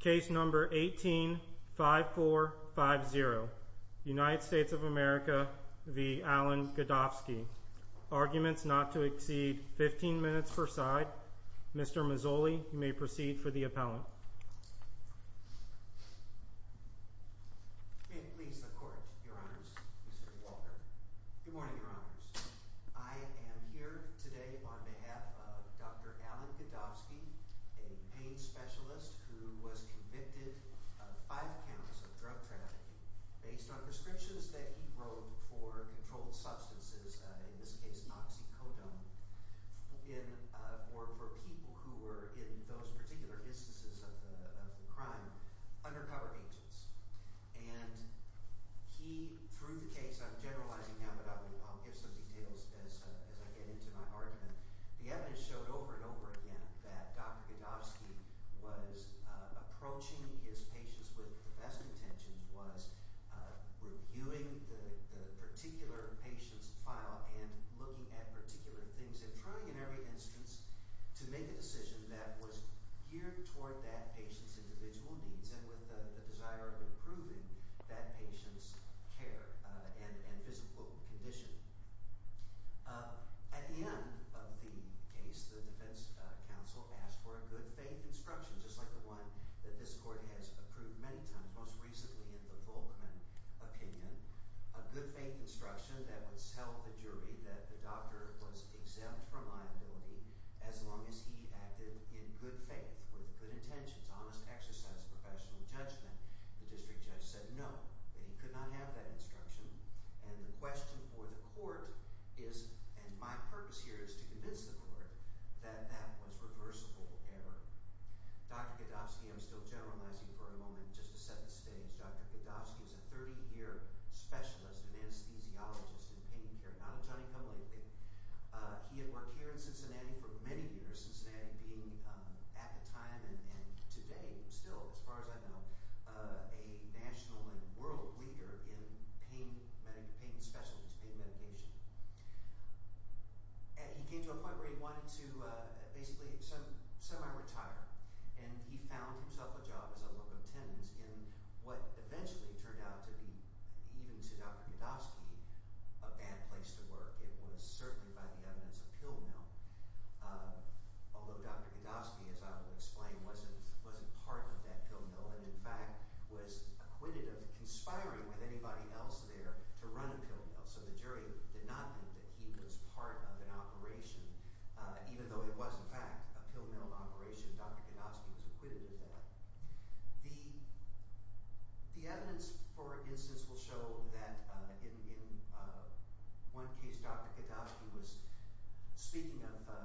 Case number 185450 United States of America v. Alan Godofsky. Arguments not to exceed 15 minutes per side. Mr. Mazzoli, you may proceed for the testimony. I'm going to start with the main specialist who was convicted of 5 counts of drug trafficking based on prescriptions that he wrote for controlled substances, in this case Noxicodone, for people who were in those particular instances of the crime, undercover agents. And he, through the case, I'm generalizing now, but I'll give some details as I get into my argument. The evidence showed over and over again that Dr. Godofsky was approaching his patients with the best intentions, was reviewing the particular patient's file and looking at particular things and trying in every instance to make a decision that was geared toward that patient's individual needs and with the desire of improving that patient's care and physical condition. At the end of the case, the defense counsel asked for a good faith instruction just like the one that this court has approved many times, most recently in the Volkman opinion. A good faith instruction that would tell the jury that the doctor was exempt from liability as long as he acted in good faith, with good intentions, honest exercise, professional judgment. The district judge said no, that he could not have that instruction. And the question for the court is, and my purpose here is to convince the court, that that was reversible error. Dr. Godofsky, I'm still generalizing for a moment just to set the stage, Dr. Godofsky is a 30-year specialist, an anesthesiologist in pain care, not a ton income lately. He had worked here in Cincinnati for many years, Cincinnati being at the time and today still, as far as I know, a national and world leader in pain specialties, pain medication. He came to a point where he wanted to basically semi-retire, and he found himself a job as a local attendant in what eventually turned out to be, even to Dr. Godofsky, a bad place to work. It was certainly by the evidence of pill mail. Although Dr. Godofsky, as I will explain, wasn't part of that pill mail and in fact was acquitted of conspiring with anybody else there to run a pill mail. So the jury did not think that he was part of an operation, even though it was in fact a pill mail operation. Dr. Godofsky was acquitted of that. The evidence, for instance, will show that in one case Dr. Godofsky's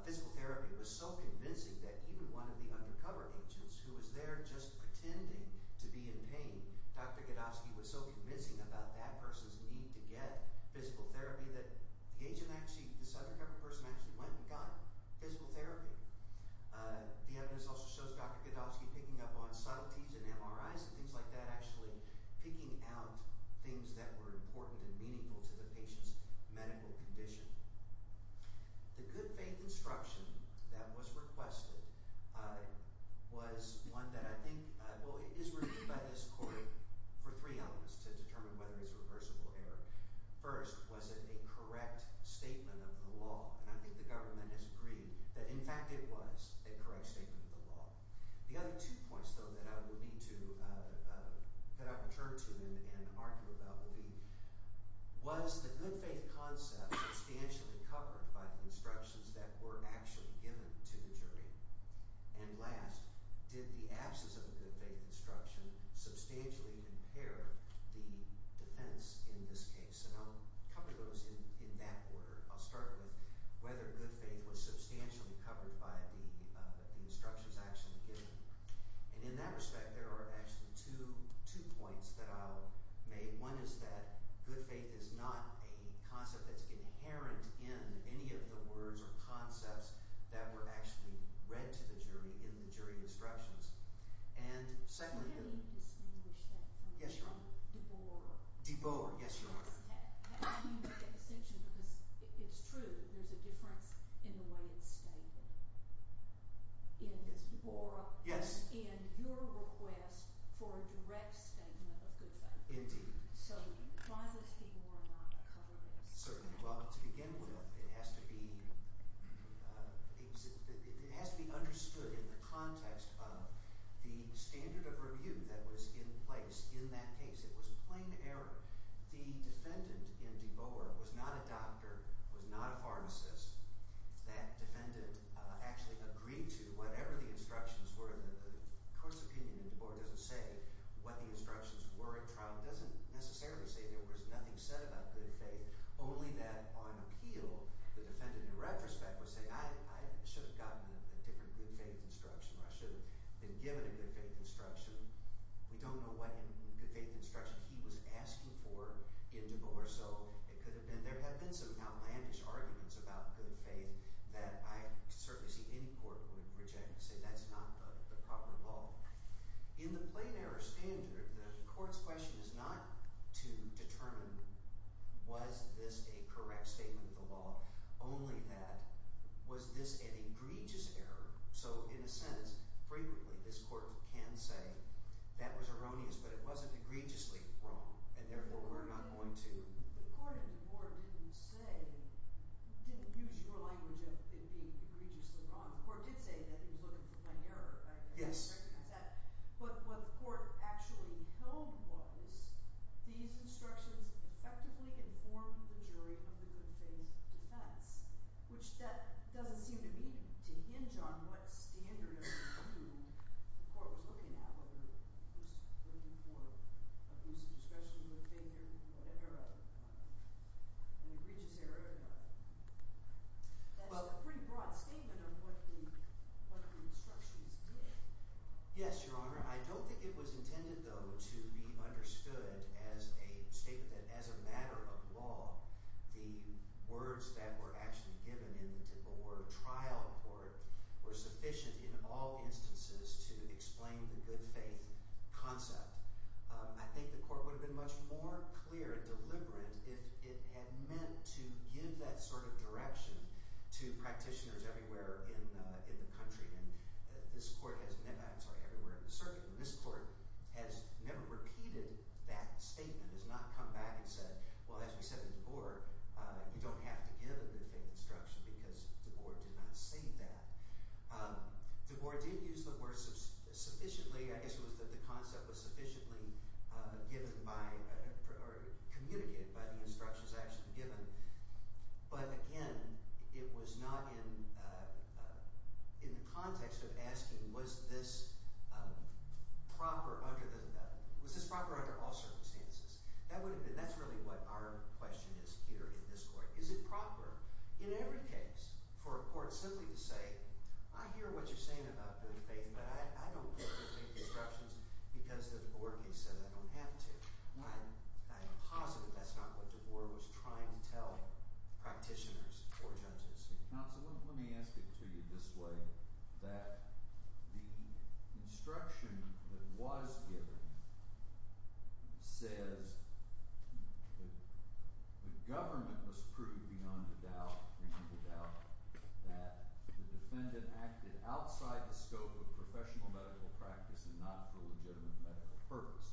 physical therapy was so convincing that even one of the undercover agents who was there just pretending to be in pain, Dr. Godofsky was so convincing about that person's need to get physical therapy that this undercover person actually went and got physical therapy. The evidence also shows Dr. Godofsky picking up on subtleties and MRIs and things like that, actually picking out things that were important and meaningful to the patient's medical condition. The good faith instruction that was requested was one that I think is reviewed by this court for three elements to determine whether it's a reversible error. First, was it a correct statement of the law? And I think the government has agreed that in fact it was a correct statement of the law. The other two points, though, that I will need to cut out and turn to and argue about will be, was the good faith concept substantially covered by the instructions that were actually given to the jury? And last, did the absence of a good faith instruction substantially impair the defense in this case? And I'll cover those in that order. I'll start with whether good faith was substantially covered by the instructions actually given. And in that respect, there are actually two points that I'll make. One is that good faith is not a concept that's inherent in any of the words or concepts that were actually read to the jury in the jury instructions. And secondly... Can you distinguish that from... Yes, Your Honor. De Boer... De Boer, yes, Your Honor. Can you make a distinction? Because it's true that there's a difference in the way it's stated. In De Boer... Yes. In your request for a direct statement of good faith. Indeed. So why was De Boer not covered in this? Certainly. Well, to begin with, it has to be... it has to be understood in the context of the standard of review that was in place in that case. It was plain error. The defendant in De Boer was not a doctor, was not a pharmacist. That defendant actually agreed to whatever the instructions were. The court's opinion in De Boer doesn't say what the instructions were at trial. It doesn't necessarily say there was nothing said about good faith. Only that on appeal, the defendant in retrospect would say, I should have gotten a different good faith instruction, or I should have been given a good faith instruction. We don't know what good faith instruction he was asking for in De Boer, so it could have been... there have been some outlandish arguments about good faith that I certainly see any court would reject and say that's not the proper law. In the plain error standard, the court's question is not to determine was this a correct statement of the law, only that was this an error. So in a sentence, frequently this court can say that was erroneous, but it wasn't egregiously wrong, and therefore we're not going to... The court in De Boer didn't say, didn't use your language of it being egregiously wrong. The court did say that he was looking for plain error, right? Yes. I recognize that. But what the court actually held was these instructions effectively informed the jury of the good faith defense, which that doesn't seem to me to hinge on what standard or view the court was looking at, whether it was looking for abuse of discretion, good faith, or whatever, an egregious error or not. That's a pretty broad statement of what the instructions did. Yes, Your Honor. I don't think it was intended, though, to be understood as a statement, as a matter of law. The words that were actually given in the De Boer trial court were sufficient in all instances to explain the good faith concept. I think the court would have been much more clear and deliberate if it had meant to give that sort of direction to practitioners everywhere in the country. And this court has never... I'm sorry, everywhere in the country has never said, well, as we said in De Boer, you don't have to give a good faith instruction because De Boer did not say that. De Boer did use the word sufficiently, I guess it was that the concept was sufficiently communicated by the instructions actually given. But again, it was not in the context of asking, was this proper under all circumstances? That's really what our question is here in this court. Is it proper in every case for a court simply to say, I hear what you're saying about good faith, but I don't give good faith instructions because De Boer said I don't have to. I'm positive that's not what De Boer was trying to tell practitioners or judges. Counsel, let me ask it to you this way, that the instruction that was given says the government must prove beyond a doubt that the defendant acted outside the scope of professional medical practice and not for legitimate medical purpose.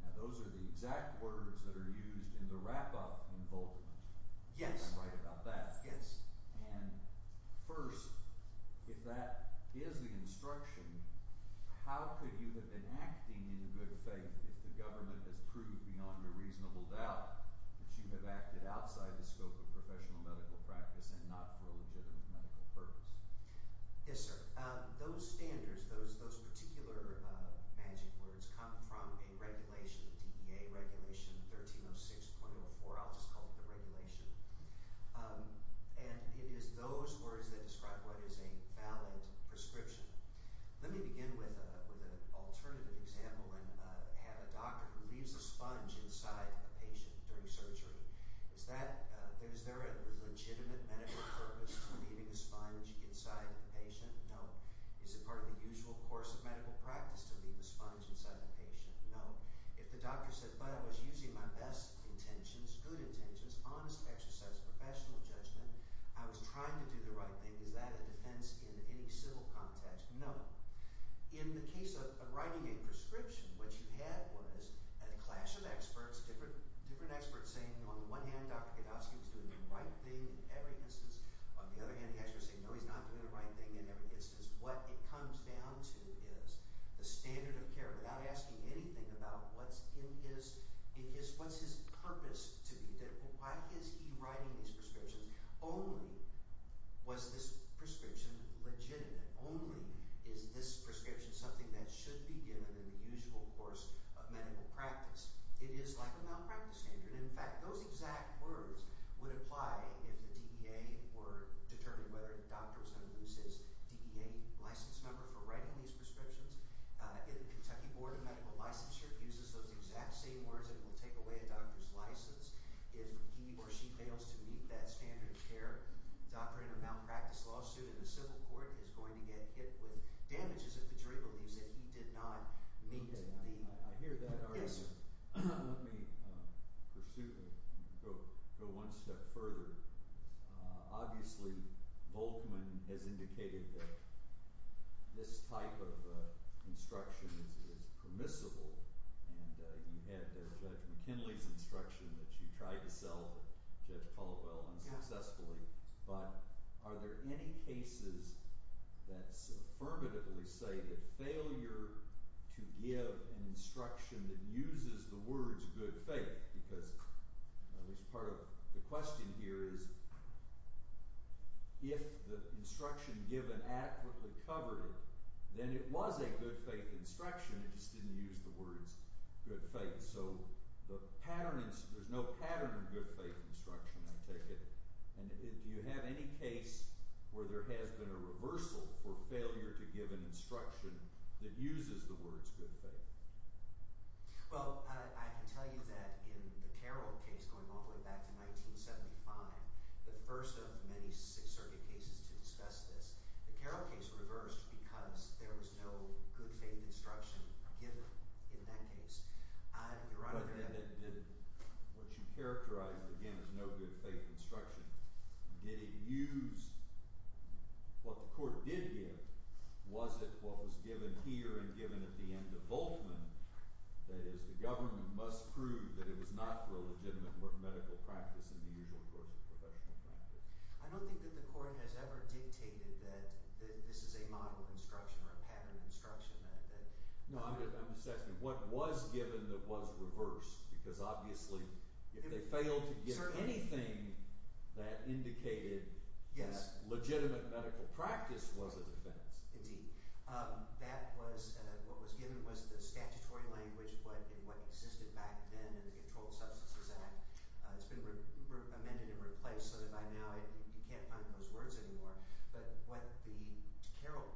Now those are the exact words that are used in the wrap-up invokement. Yes. Am I right about that? Yes. And first, if that is the instruction, how could you have been acting in good faith if the government has proved beyond a reasonable doubt that you have acted outside the scope of professional medical practice and not for a legitimate medical purpose? Yes, sir. Those standards, those particular magic words come from a regulation, the DEA regulation 1306.04. I'll just call it the regulation. And it is those words that describe what is a valid prescription. Let me begin with an alternative example and have a doctor who leaves a sponge inside a patient during surgery. Is there a legitimate medical purpose to leaving a sponge inside a patient? No. Is it part of the usual course of medical practice to leave a sponge inside a patient? No. If the doctor said, but I was using my best intentions, good intentions, honest exercise of professional judgment, I was trying to do the right thing, is that a defense in any civil context? No. In the case of writing a prescription, what you had was a clash of experts, different experts saying on the one hand Dr. Gadowski was doing the right thing in every instance. On the other hand, the experts saying, no, he's not doing the right thing in every instance. What it comes down to is the standard of care without asking anything about what's in his, what's his purpose to be, why is he writing these prescriptions? Only was this prescription legitimate? Only is this prescription something that should be given in the usual course of medical practice? It is like a malpractice standard. In fact, those exact words would apply if the DEA were determined whether the doctor was going to lose his DEA license number for writing these prescriptions. In the Kentucky Board of Medical Licensure, it uses those exact same words and will take away a doctor's license if he or she fails to meet that standard of care. A doctor in a malpractice lawsuit in a civil court is going to get hit with damages if the jury believes that he did not meet the standard of care. I hear that. All right. Let me pursue, go one step further. Obviously, Volkman has indicated that this type of instruction is permissible and you had Judge McKinley's instruction that you tried to sell Judge Caldwell unsuccessfully, but are there any cases that affirmatively say that failure to give an instruction that uses the words good faith, because at least part of the question here is if the instruction given adequately covered it, then it was a good faith instruction, it just didn't use the words good faith. So, there's no pattern of good faith instruction, I take it, and do you have any case where there has been a reversal for failure to give an instruction that uses the words good faith? Well, I can tell you that in the Carroll case going all the way back to 1975, the first of many circuit cases to discuss this, the Carroll case reversed because there was no good faith instruction given in that case. What you characterized, again, is no good faith instruction. Did it use what the court did give? Was it what was given here and given at the end of Volkman? That is, the government must prove that it was not for a legitimate medical practice in the usual course of professional practice. I don't think that the court has ever dictated that this is a model instruction or a pattern of instruction. No, I'm just asking, what was given that was reversed? Because, obviously, if they failed to give anything that indicated that legitimate medical practice was a defense. Indeed. What was given was the statutory language, but in what existed back then in the Controlled Substances Act, it's been amended and replaced so that by now you can't find those words anymore. But what the Carroll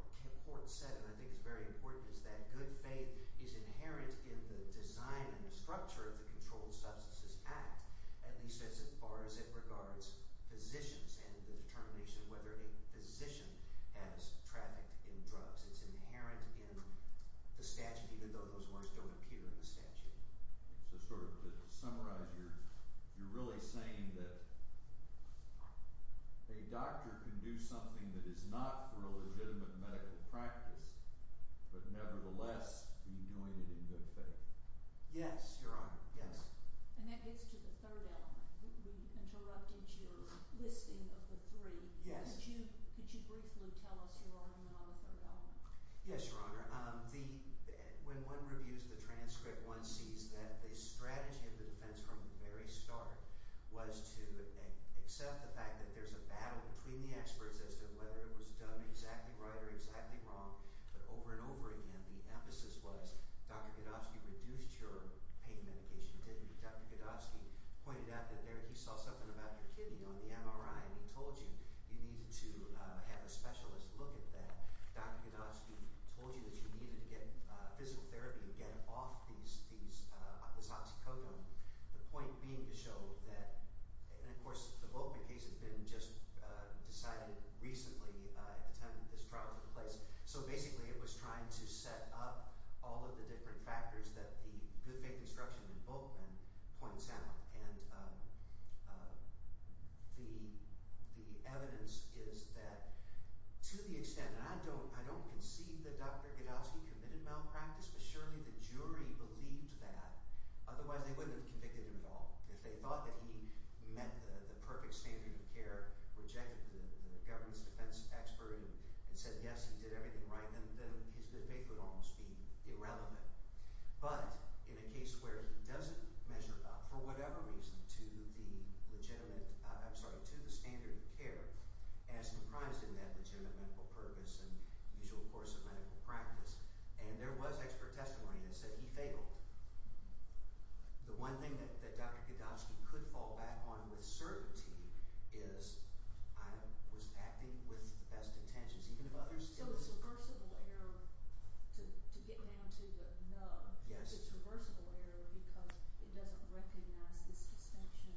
court said, and I think it's very important, is that good faith is inherent in the design and structure of the Controlled Substances Act, at least as far as it regards physicians and the determination of whether a physician has trafficked in drugs. It's inherent in the statute, even though those words don't appear in the statute. So to summarize, you're really saying that a doctor can do something that is not for a legitimate medical practice, but nevertheless be doing it in good faith. Yes, Your Honor. Yes. And that gets to the third element. We interrupted your listing of the three. Yes. Could you briefly tell us your argument on the third element? Yes, Your Honor. When one reviews the transcript, one sees that the strategy of the defense from the very start was to accept the fact that there's a battle between the experts as to whether it was done exactly right or exactly wrong. But over and over again, the emphasis was, Dr. Godofsky reduced your pain medication, didn't he? Dr. Godofsky pointed out that he saw something about your kidney on the MRI and he told you you needed to have a specialist look at that. Dr. Godofsky told you that you needed to get physical therapy to get off this oxycodone. The point being to show that, and of course the Volkman case has been just decided recently at the time that this trial took place. So basically it was trying to set up all of the different factors that the good faith instruction in To the extent, and I don't concede that Dr. Godofsky committed malpractice, but surely the jury believed that. Otherwise they wouldn't have convicted him at all. If they thought that he met the perfect standard of care, rejected the governance defense expert and said yes, he did everything right, then his good faith would almost be irrelevant. But in a case where he doesn't measure up for whatever reason to the legitimate, I'm sorry, to the standard of care as comprised in that legitimate medical purpose and usual course of medical practice, and there was expert testimony that said he fabled. The one thing that Dr. Godofsky could fall back on with certainty is I was acting with the best intentions, even if others... So it's reversible error to get down to the no. Yes. It's reversible error because it doesn't recognize this distinction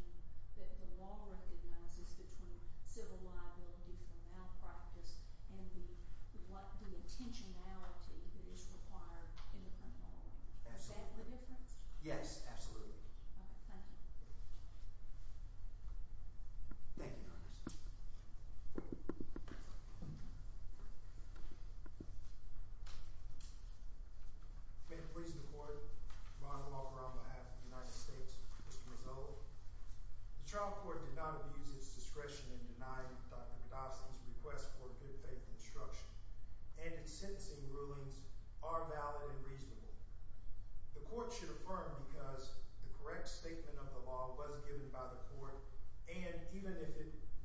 that the law recognizes between civil liability for malpractice and the intentionality that is required in the criminal law. Is that the difference? Yes, absolutely. Okay, thank you. Thank you, Your Honor. May it please the Court, Ron Walker on behalf of the United States, Mr. Mazzola. The trial court did not abuse its discretion in denying Dr. Godofsky's request for good faith instruction, and its sentencing rulings are valid and reasonable. The court should affirm because the correct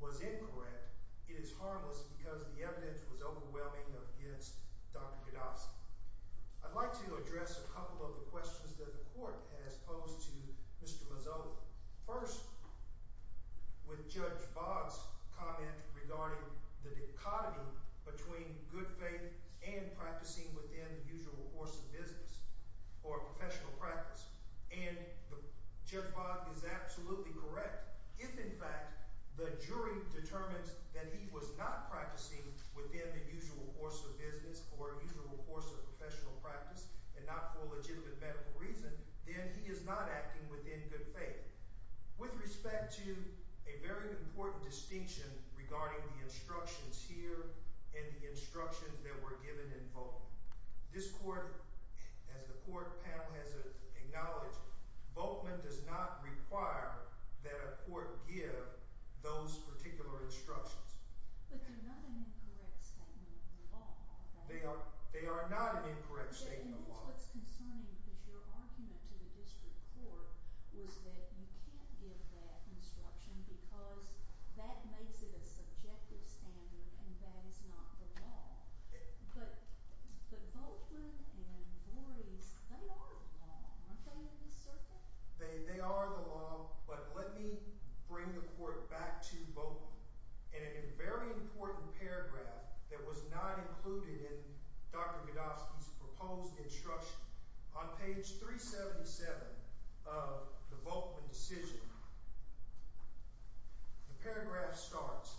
was incorrect, it is harmless because the evidence was overwhelming against Dr. Godofsky. I'd like to address a couple of the questions that the court has posed to Mr. Mazzola. First, with Judge Bodd's comment regarding the dichotomy between good faith and practicing within the usual course of business or professional practice, and Judge Bodd is absolutely correct. If in the jury determines that he was not practicing within the usual course of business or usual course of professional practice and not for a legitimate medical reason, then he is not acting within good faith. With respect to a very important distinction regarding the instructions here and the instructions that were given in Volkman, this court, as the judge said, did not give those particular instructions. But they're not an incorrect statement of the law, are they? They are not an incorrect statement of the law. And that's what's concerning, because your argument to the district court was that you can't give that instruction because that makes it a subjective standard and that is not the law. But Volkman and Voorhees, they are the law, aren't they, in this circuit? They are the law, but let me bring the court back to Volkman in a very important paragraph that was not included in Dr. Godofsky's proposed instruction. On page 377 of the Volkman decision, the paragraph starts,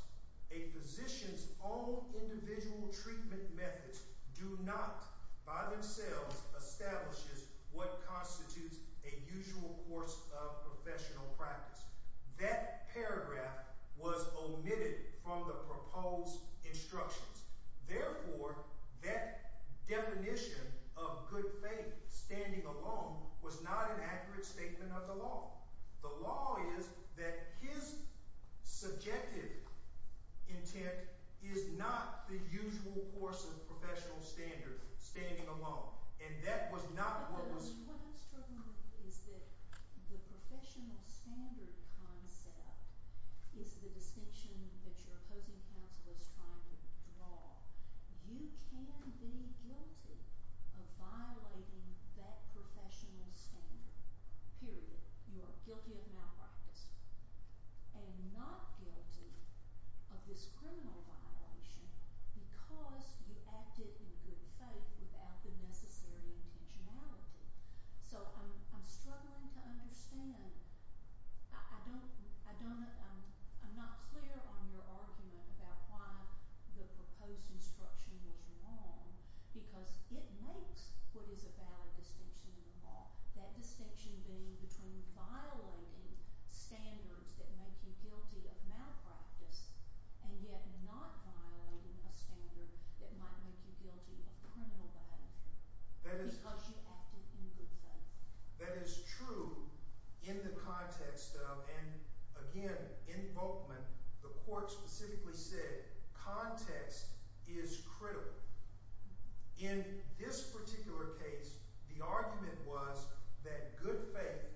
a physician's own individual treatment methods do not by themselves establishes what that paragraph was omitted from the proposed instructions. Therefore, that definition of good faith, standing alone, was not an accurate statement of the law. The law is that his subjective intent is not the usual course of professional standard, standing alone. And that was not what was... What I'm struggling with is that the professional standard concept is the distinction that your opposing counsel is trying to draw. You can be guilty of violating that professional standard, period. You are guilty of malpractice and not guilty of this criminal violation because you acted in good faith without the necessary intentionality. So I'm struggling to understand. I'm not clear on your argument about why the proposed instruction was wrong because it makes what is a valid distinction in the law, that distinction being between violating standards that make you guilty of malpractice and yet not violating a standard that might make you guilty of criminal violation because you acted in good faith. That is true in the context of, and again, in Volkman, the court specifically said, context is critical. In this particular case, the argument was that good faith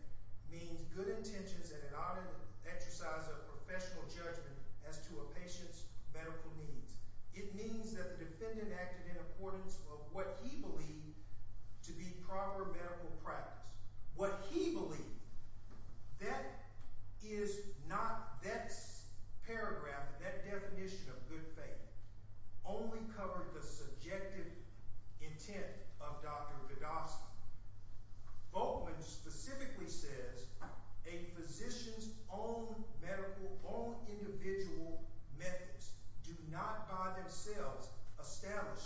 means good intentions and an honest exercise of professional judgment as to a patient's medical needs. It means that the defendant acted in accordance of what he believed to be proper medical practice. What he believed, that is not, that paragraph, that definition of good faith only covered the subjective intent of Dr. Vidoff's. Volkman specifically says a physician's own medical, own individual methods do not by themselves establish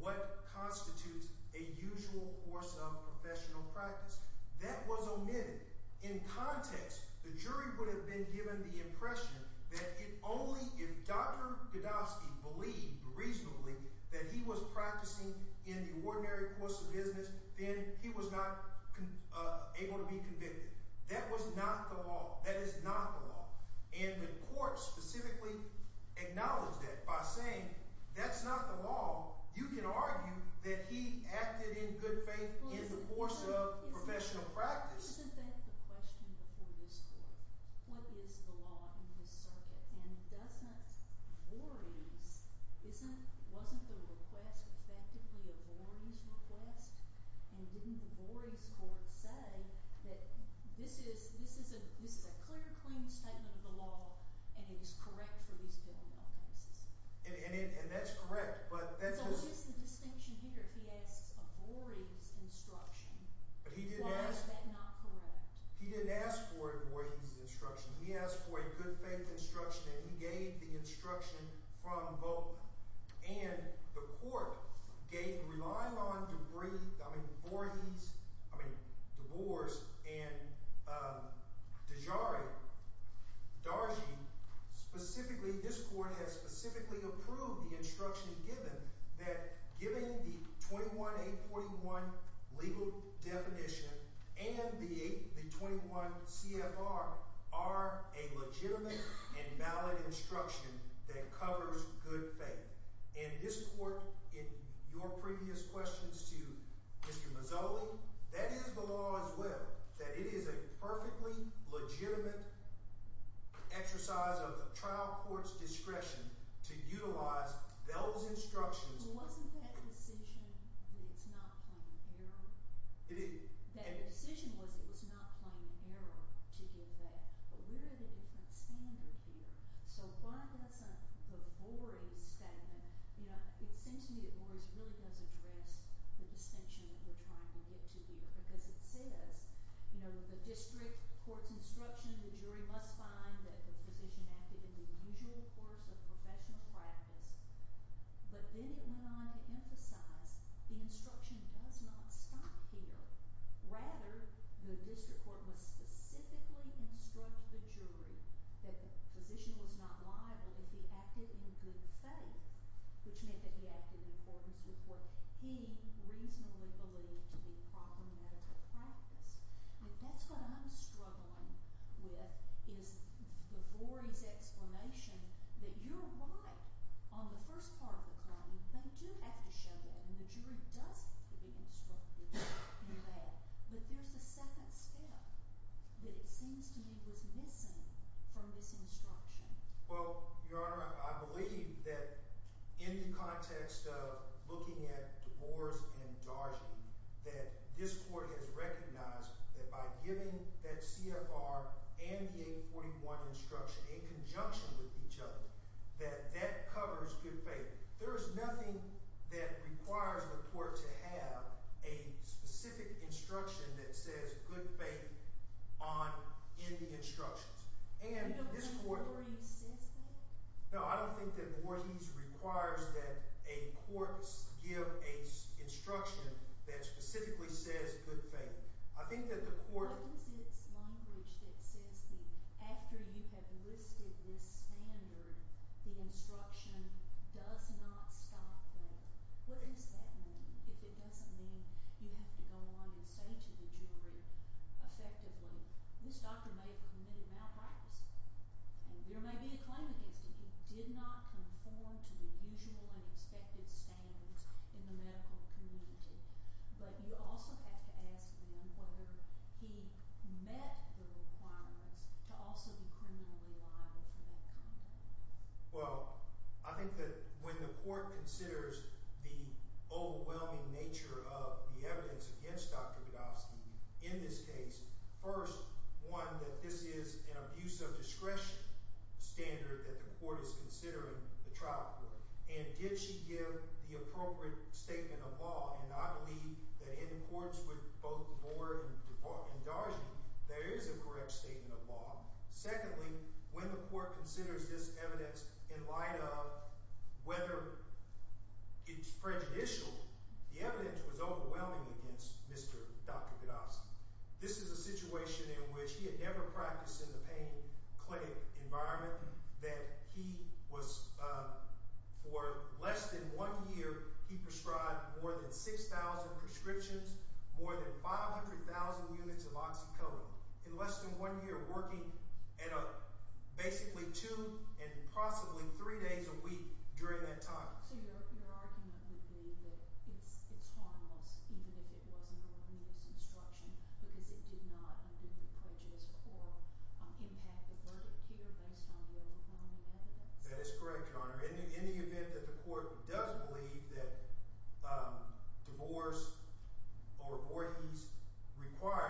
what constitutes a usual course of professional practice. That was omitted. In context, the jury would have been given the impression that if only, if Dr. Vidoff believed reasonably that he was practicing in the ordinary course of business, then he was not able to be convicted. That was not the law. That is not the law. And the court specifically acknowledged that by saying that's not the law. You can argue that he acted in good faith in the course of professional practice. Isn't that the question before this court? What is the law in this circuit? And doesn't Vorey's, wasn't the request effectively a Vorey's request? And didn't the Vorey's court say that this is a clear, clean statement of the law and it is correct And that's correct. So here's the distinction here. If he asks a Vorey's instruction, why is that not correct? He didn't ask for a Vorey's instruction. He asked for a good faith instruction and he gave the instruction from Volkman. And the court gave, relying on Debris, I mean Vorey's, I mean Deboer's and Dejary, Dargy, specifically, this court has specifically approved the instruction given that given the 21-841 legal definition and the 21 CFR are a legitimate and valid instruction that covers good faith. And this to Mr. Mazzoli, that is the law as well. That it is a perfectly legitimate exercise of trial court's discretion to utilize those instructions. Wasn't that decision that it's not plain error? It is. That decision was it was not plain error to give that. But we're at a different standard here. So why doesn't the Vorey's statement, you know, it seems to me that Vorey's really does address the distinction that we're trying to get to here because it says, you know, the district court's instruction, the jury must find that the physician acted in the usual course of professional practice. But then it went on to emphasize the instruction does not stop here. Rather, the district court must specifically instruct the jury that the physician was not liable if he acted in good faith, which meant that he acted in accordance with what he reasonably believed to be proper medical practice. And that's what I'm struggling with is the Vorey's explanation that you're right on the first part of the claim. They do have to show that. And the jury does have to be instructed in that. But there's a second step that it seems to me was missing from this instruction. Well, Your Honor, I believe that in the context of looking at DeBoers and Dargy, that this court has recognized that by giving that CFR and the 841 instruction in conjunction with each other, that that covers good faith. There is nothing that requires the court to have a specific instruction that says good faith in the instructions. Do you know if the jury says that? No, I don't think that Vorey's requires that a court give an instruction that specifically says good faith. I think that the court... What is its language that says that after you have listed this standard, the instruction does not stop there. What does that mean if it doesn't mean you have to go on and say to the jury effectively, this doctor may have committed malpractice and there may be a claim against him. He did not conform to the usual and expected standards in the medical community. But you also have to ask them whether he met the requirements to also be criminally liable for that conduct. Well, I think that when the court considers the overwhelming nature of the evidence against Dr. Budofsky in this case, first, one, that this is an abuse of discretion standard that the court is considering the trial court. And did she give the appropriate statement of law? And I believe that in courts with both Vorey and Dargy, there is a correct statement of law. Secondly, when the court considers this evidence in light of whether it's prejudicial, the evidence was overwhelming against Mr. Dr. Budofsky. This is a situation in which he had never practiced in the pain clinic environment that he was, for less than one year, he prescribed more than 6,000 prescriptions, more than 500,000 units of oxycodone. In less than one year, working at a basically two and possibly three days a week during that time. So your argument would be that it's harmless even if it wasn't a religious instruction because it did not, under the prejudice court, impact the verdict here based on the overwhelming evidence? That is correct, Your Honor. In the event that the court does believe that divorce or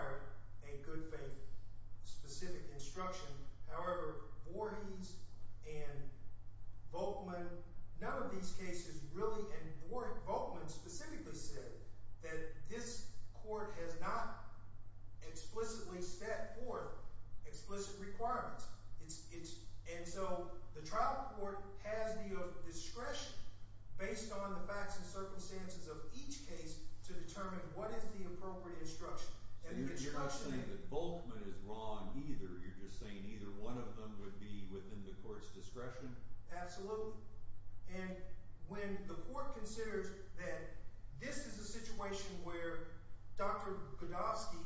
specific instruction, however, Vorey's and Volkman, none of these cases really, and Volkman specifically said that this court has not explicitly set forth explicit requirements. And so the trial court has the discretion based on the facts and circumstances of each case to determine what is the appropriate instruction. So you're not saying that Volkman is wrong either, you're just saying either one of them would be within the court's discretion? Absolutely. And when the court considers that this is a situation where Dr. Budofsky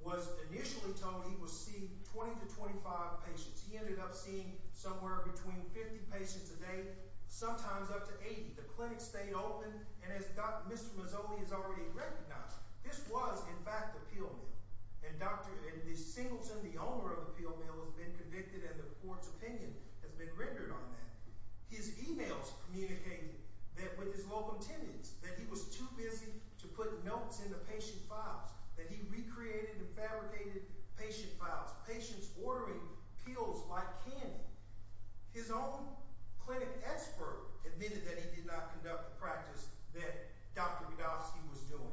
was initially told he would see 20 to 25 patients, he ended up seeing somewhere between 50 patients a day, sometimes up to 80. The clinic stayed open and as Mr. Mazzoli has already recognized, this was, in fact, a pill mill. And Dr. Singleton, the owner of the pill mill, has been convicted and the court's opinion has been rendered on that. His emails communicated that with his local attendants that he was too busy to put notes in the patient files, that he recreated and fabricated patient files, patients ordering pills like candy. His own clinic expert admitted that he did not conduct the practice that Dr. Budofsky was doing.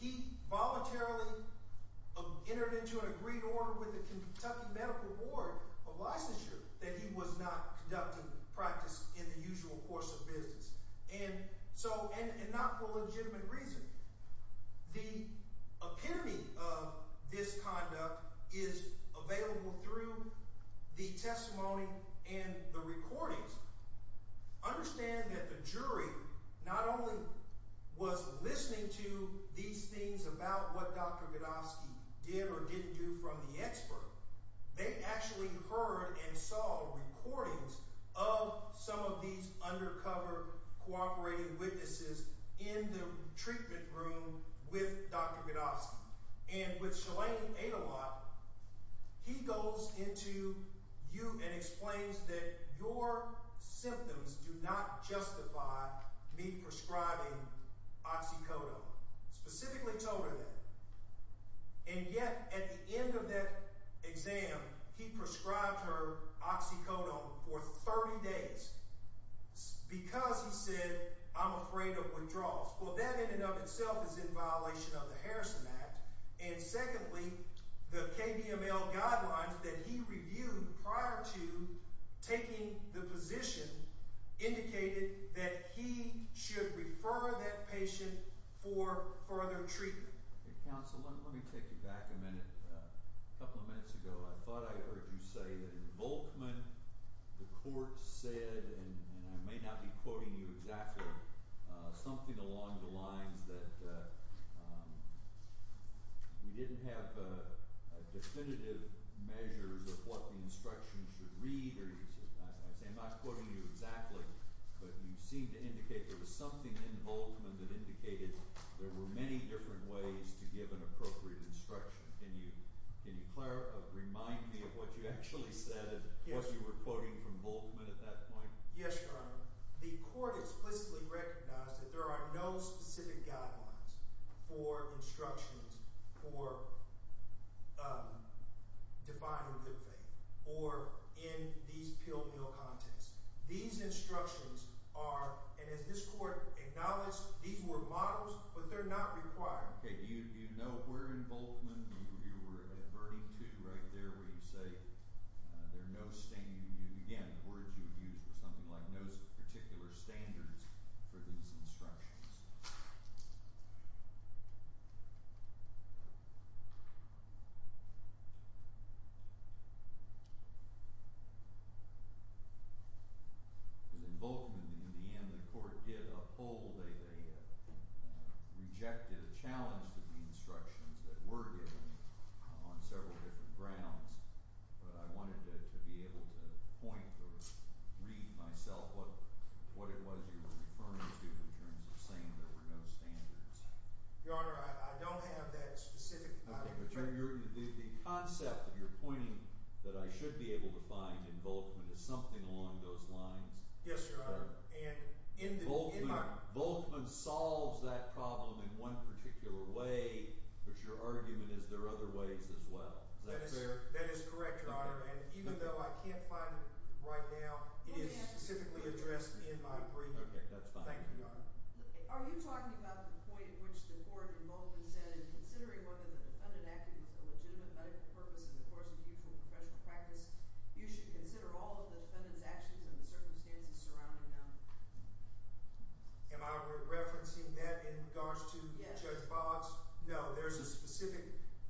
He voluntarily entered into an agreed order with the Kentucky Medical Board of Licensure that he was not conducting practice in the usual course of business. And not for legitimate reasons. The epitome of this conduct is available through the testimony and the recordings. Understand that the jury not only was listening to these things about what Dr. Budofsky did or didn't do from the expert, they actually heard and saw recordings of some of these undercover cooperating witnesses in the treatment room with Dr. Budofsky. And with Shalane Adelot, he goes into you and explains that your symptoms do not justify me prescribing oxycodone. Specifically told her that. And yet, at the end of that exam, he prescribed her oxycodone for 30 days because he said, I'm afraid of withdrawals. Well, that in and of itself is in violation of the Harrison Act. And secondly, the KVML guidelines that he reviewed prior to taking the position indicated that he should refer that patient for further treatment. Hey, counsel, let me take you back a minute. A couple of minutes ago, I thought I heard you say that in Volkman, the court said, and I may not be quoting you exactly, something along the lines that we didn't have definitive measures of what the instruction should read. I'm not quoting you exactly, but you seem to indicate there was something in Volkman that indicated there were many different ways to give an appropriate instruction. Can you remind me of what you actually said, what you were quoting from Volkman at that point? Yes, Your Honor. The court explicitly recognized that there are no specific guidelines for instructions for defying good faith or in these pill-meal contexts. These instructions are, and as this court acknowledged, these were models, but they're not required. Okay, do you know where in Volkman you were adverting to right there where you say there are no standards, again, the words you used were something like no particular standards for these instructions? Because in Volkman, in the end, the court did uphold a rejected challenge to the instructions that were given on several different grounds, but I wanted to be able to point or read myself what it was you were referring to in terms of saying there were no standards. Your Honor, I don't have that specific... Okay, but the concept of your pointing that I should be able to find in Volkman is something along those lines? Yes, Your Honor. Volkman solves that problem in one particular way, but your argument is there are other ways as well. Is that fair? That is correct, Your Honor, and even though I can't find it right now, it is specifically addressed in my brief. Okay, that's fine. Thank you, Your Honor. Are you talking about the point at which the court in Volkman said in considering whether the defendant acted with a legitimate medical purpose in the course of mutual professional practice, you should consider all of the defendant's actions and the circumstances surrounding them? Am I referencing that in regards to Judge Boggs? No, there's a specific,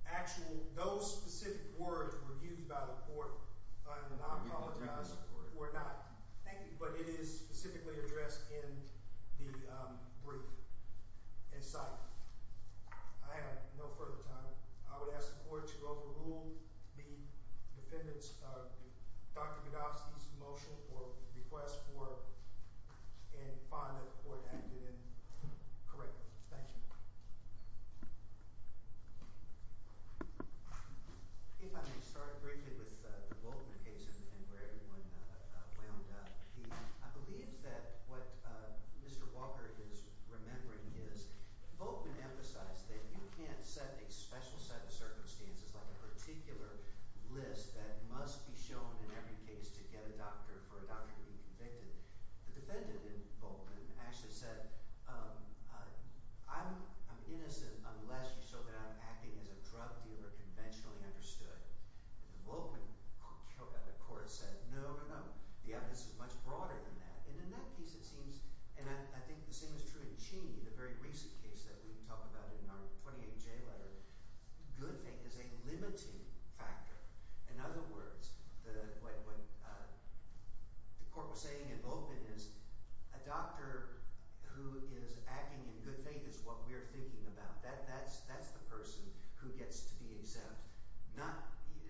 actual, those specific words were used by the court, and I apologize for not thinking, but it is specifically addressed in the brief. In sight, I have no further time. I would ask the court to overrule the defendant's, Dr. Bedosty's motion or request for, and find that the court acted in correct. Thank you. If I may start briefly with the Volkman case and where everyone wound up, I believe that what Mr. Walker is remembering is Volkman emphasized that you can't set a special set of circumstances, like a particular list that must be shown in every case to get a doctor, for a doctor to be convicted. The defendant in Volkman actually said, I'm innocent unless you show that I'm acting as a drug dealer conventionally understood. In Volkman, the court said, no, no, no, the evidence is much broader than that. And in that case, it seems, and I think the same is true in Cheney, the very recent case that we talk about in our 28-J letter, good faith is a limiting factor. In other words, what the court was saying in Volkman is a doctor who is acting in good faith is what we're thinking about. That's the person who gets to be exempt.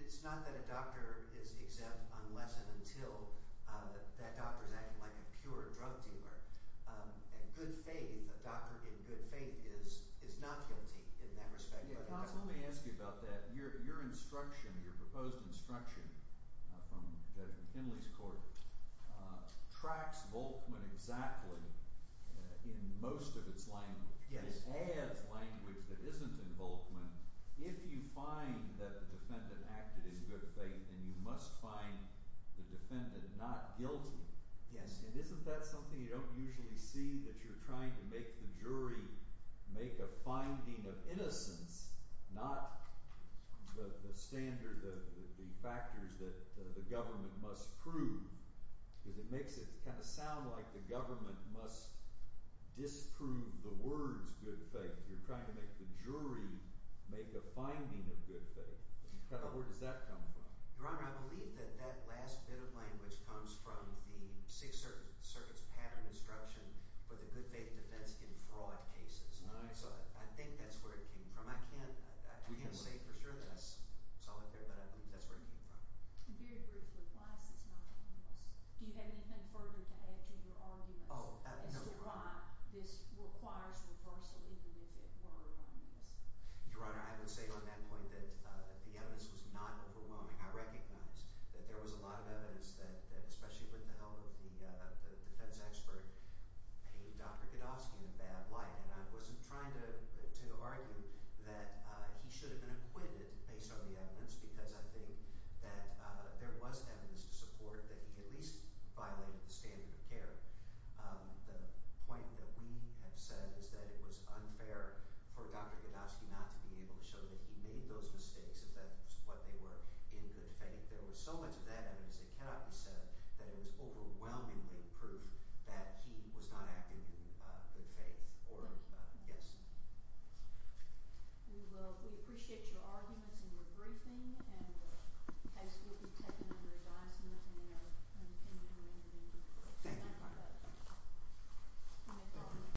It's not that a doctor is exempt unless and only if he's not guilty in that respect. Let me ask you about that. Your instruction, your proposed instruction from Judge McKinley's court tracks Volkman exactly in most of its language. It adds language that isn't in Volkman. If you find that the defendant acted in good faith, then you must find the defendant not guilty. And isn't that something you don't usually see, that you're trying to make the finding of innocence, not the standard, the factors that the government must prove, because it makes it kind of sound like the government must disprove the words good faith. You're trying to make the jury make a finding of good faith. Where does that come from? Your Honor, I believe that that last bit of language comes from the Sixth Circuit's pattern of instruction for the good faith defense in fraud cases. So I think that's where it came from. I can't say for sure that I saw it there, but I think that's where it came from. Very briefly, why is this not in English? Do you have anything further to add to your argument as to why this requires reversal even if it were in English? Your Honor, I would say on that point that the evidence was not overwhelming. I recognize that there was a lot of evidence that, especially with the help of the defense expert, paid Dr. Godofsky in a bad light. And I wasn't trying to argue that he should have been acquitted based on the evidence, because I think that there was evidence to support that he at least violated the standard of care. The point that we have said is that it was unfair for Dr. Godofsky not to be able to show that he made those mistakes, if that's what they were, in good faith. There was so much of that evidence that cannot be said, that it was overwhelmingly proof that he was not acting in good faith. Thank you. Yes. We appreciate your arguments and your briefing, and the case will be taken under advisement in our opinion. Thank you, Your Honor.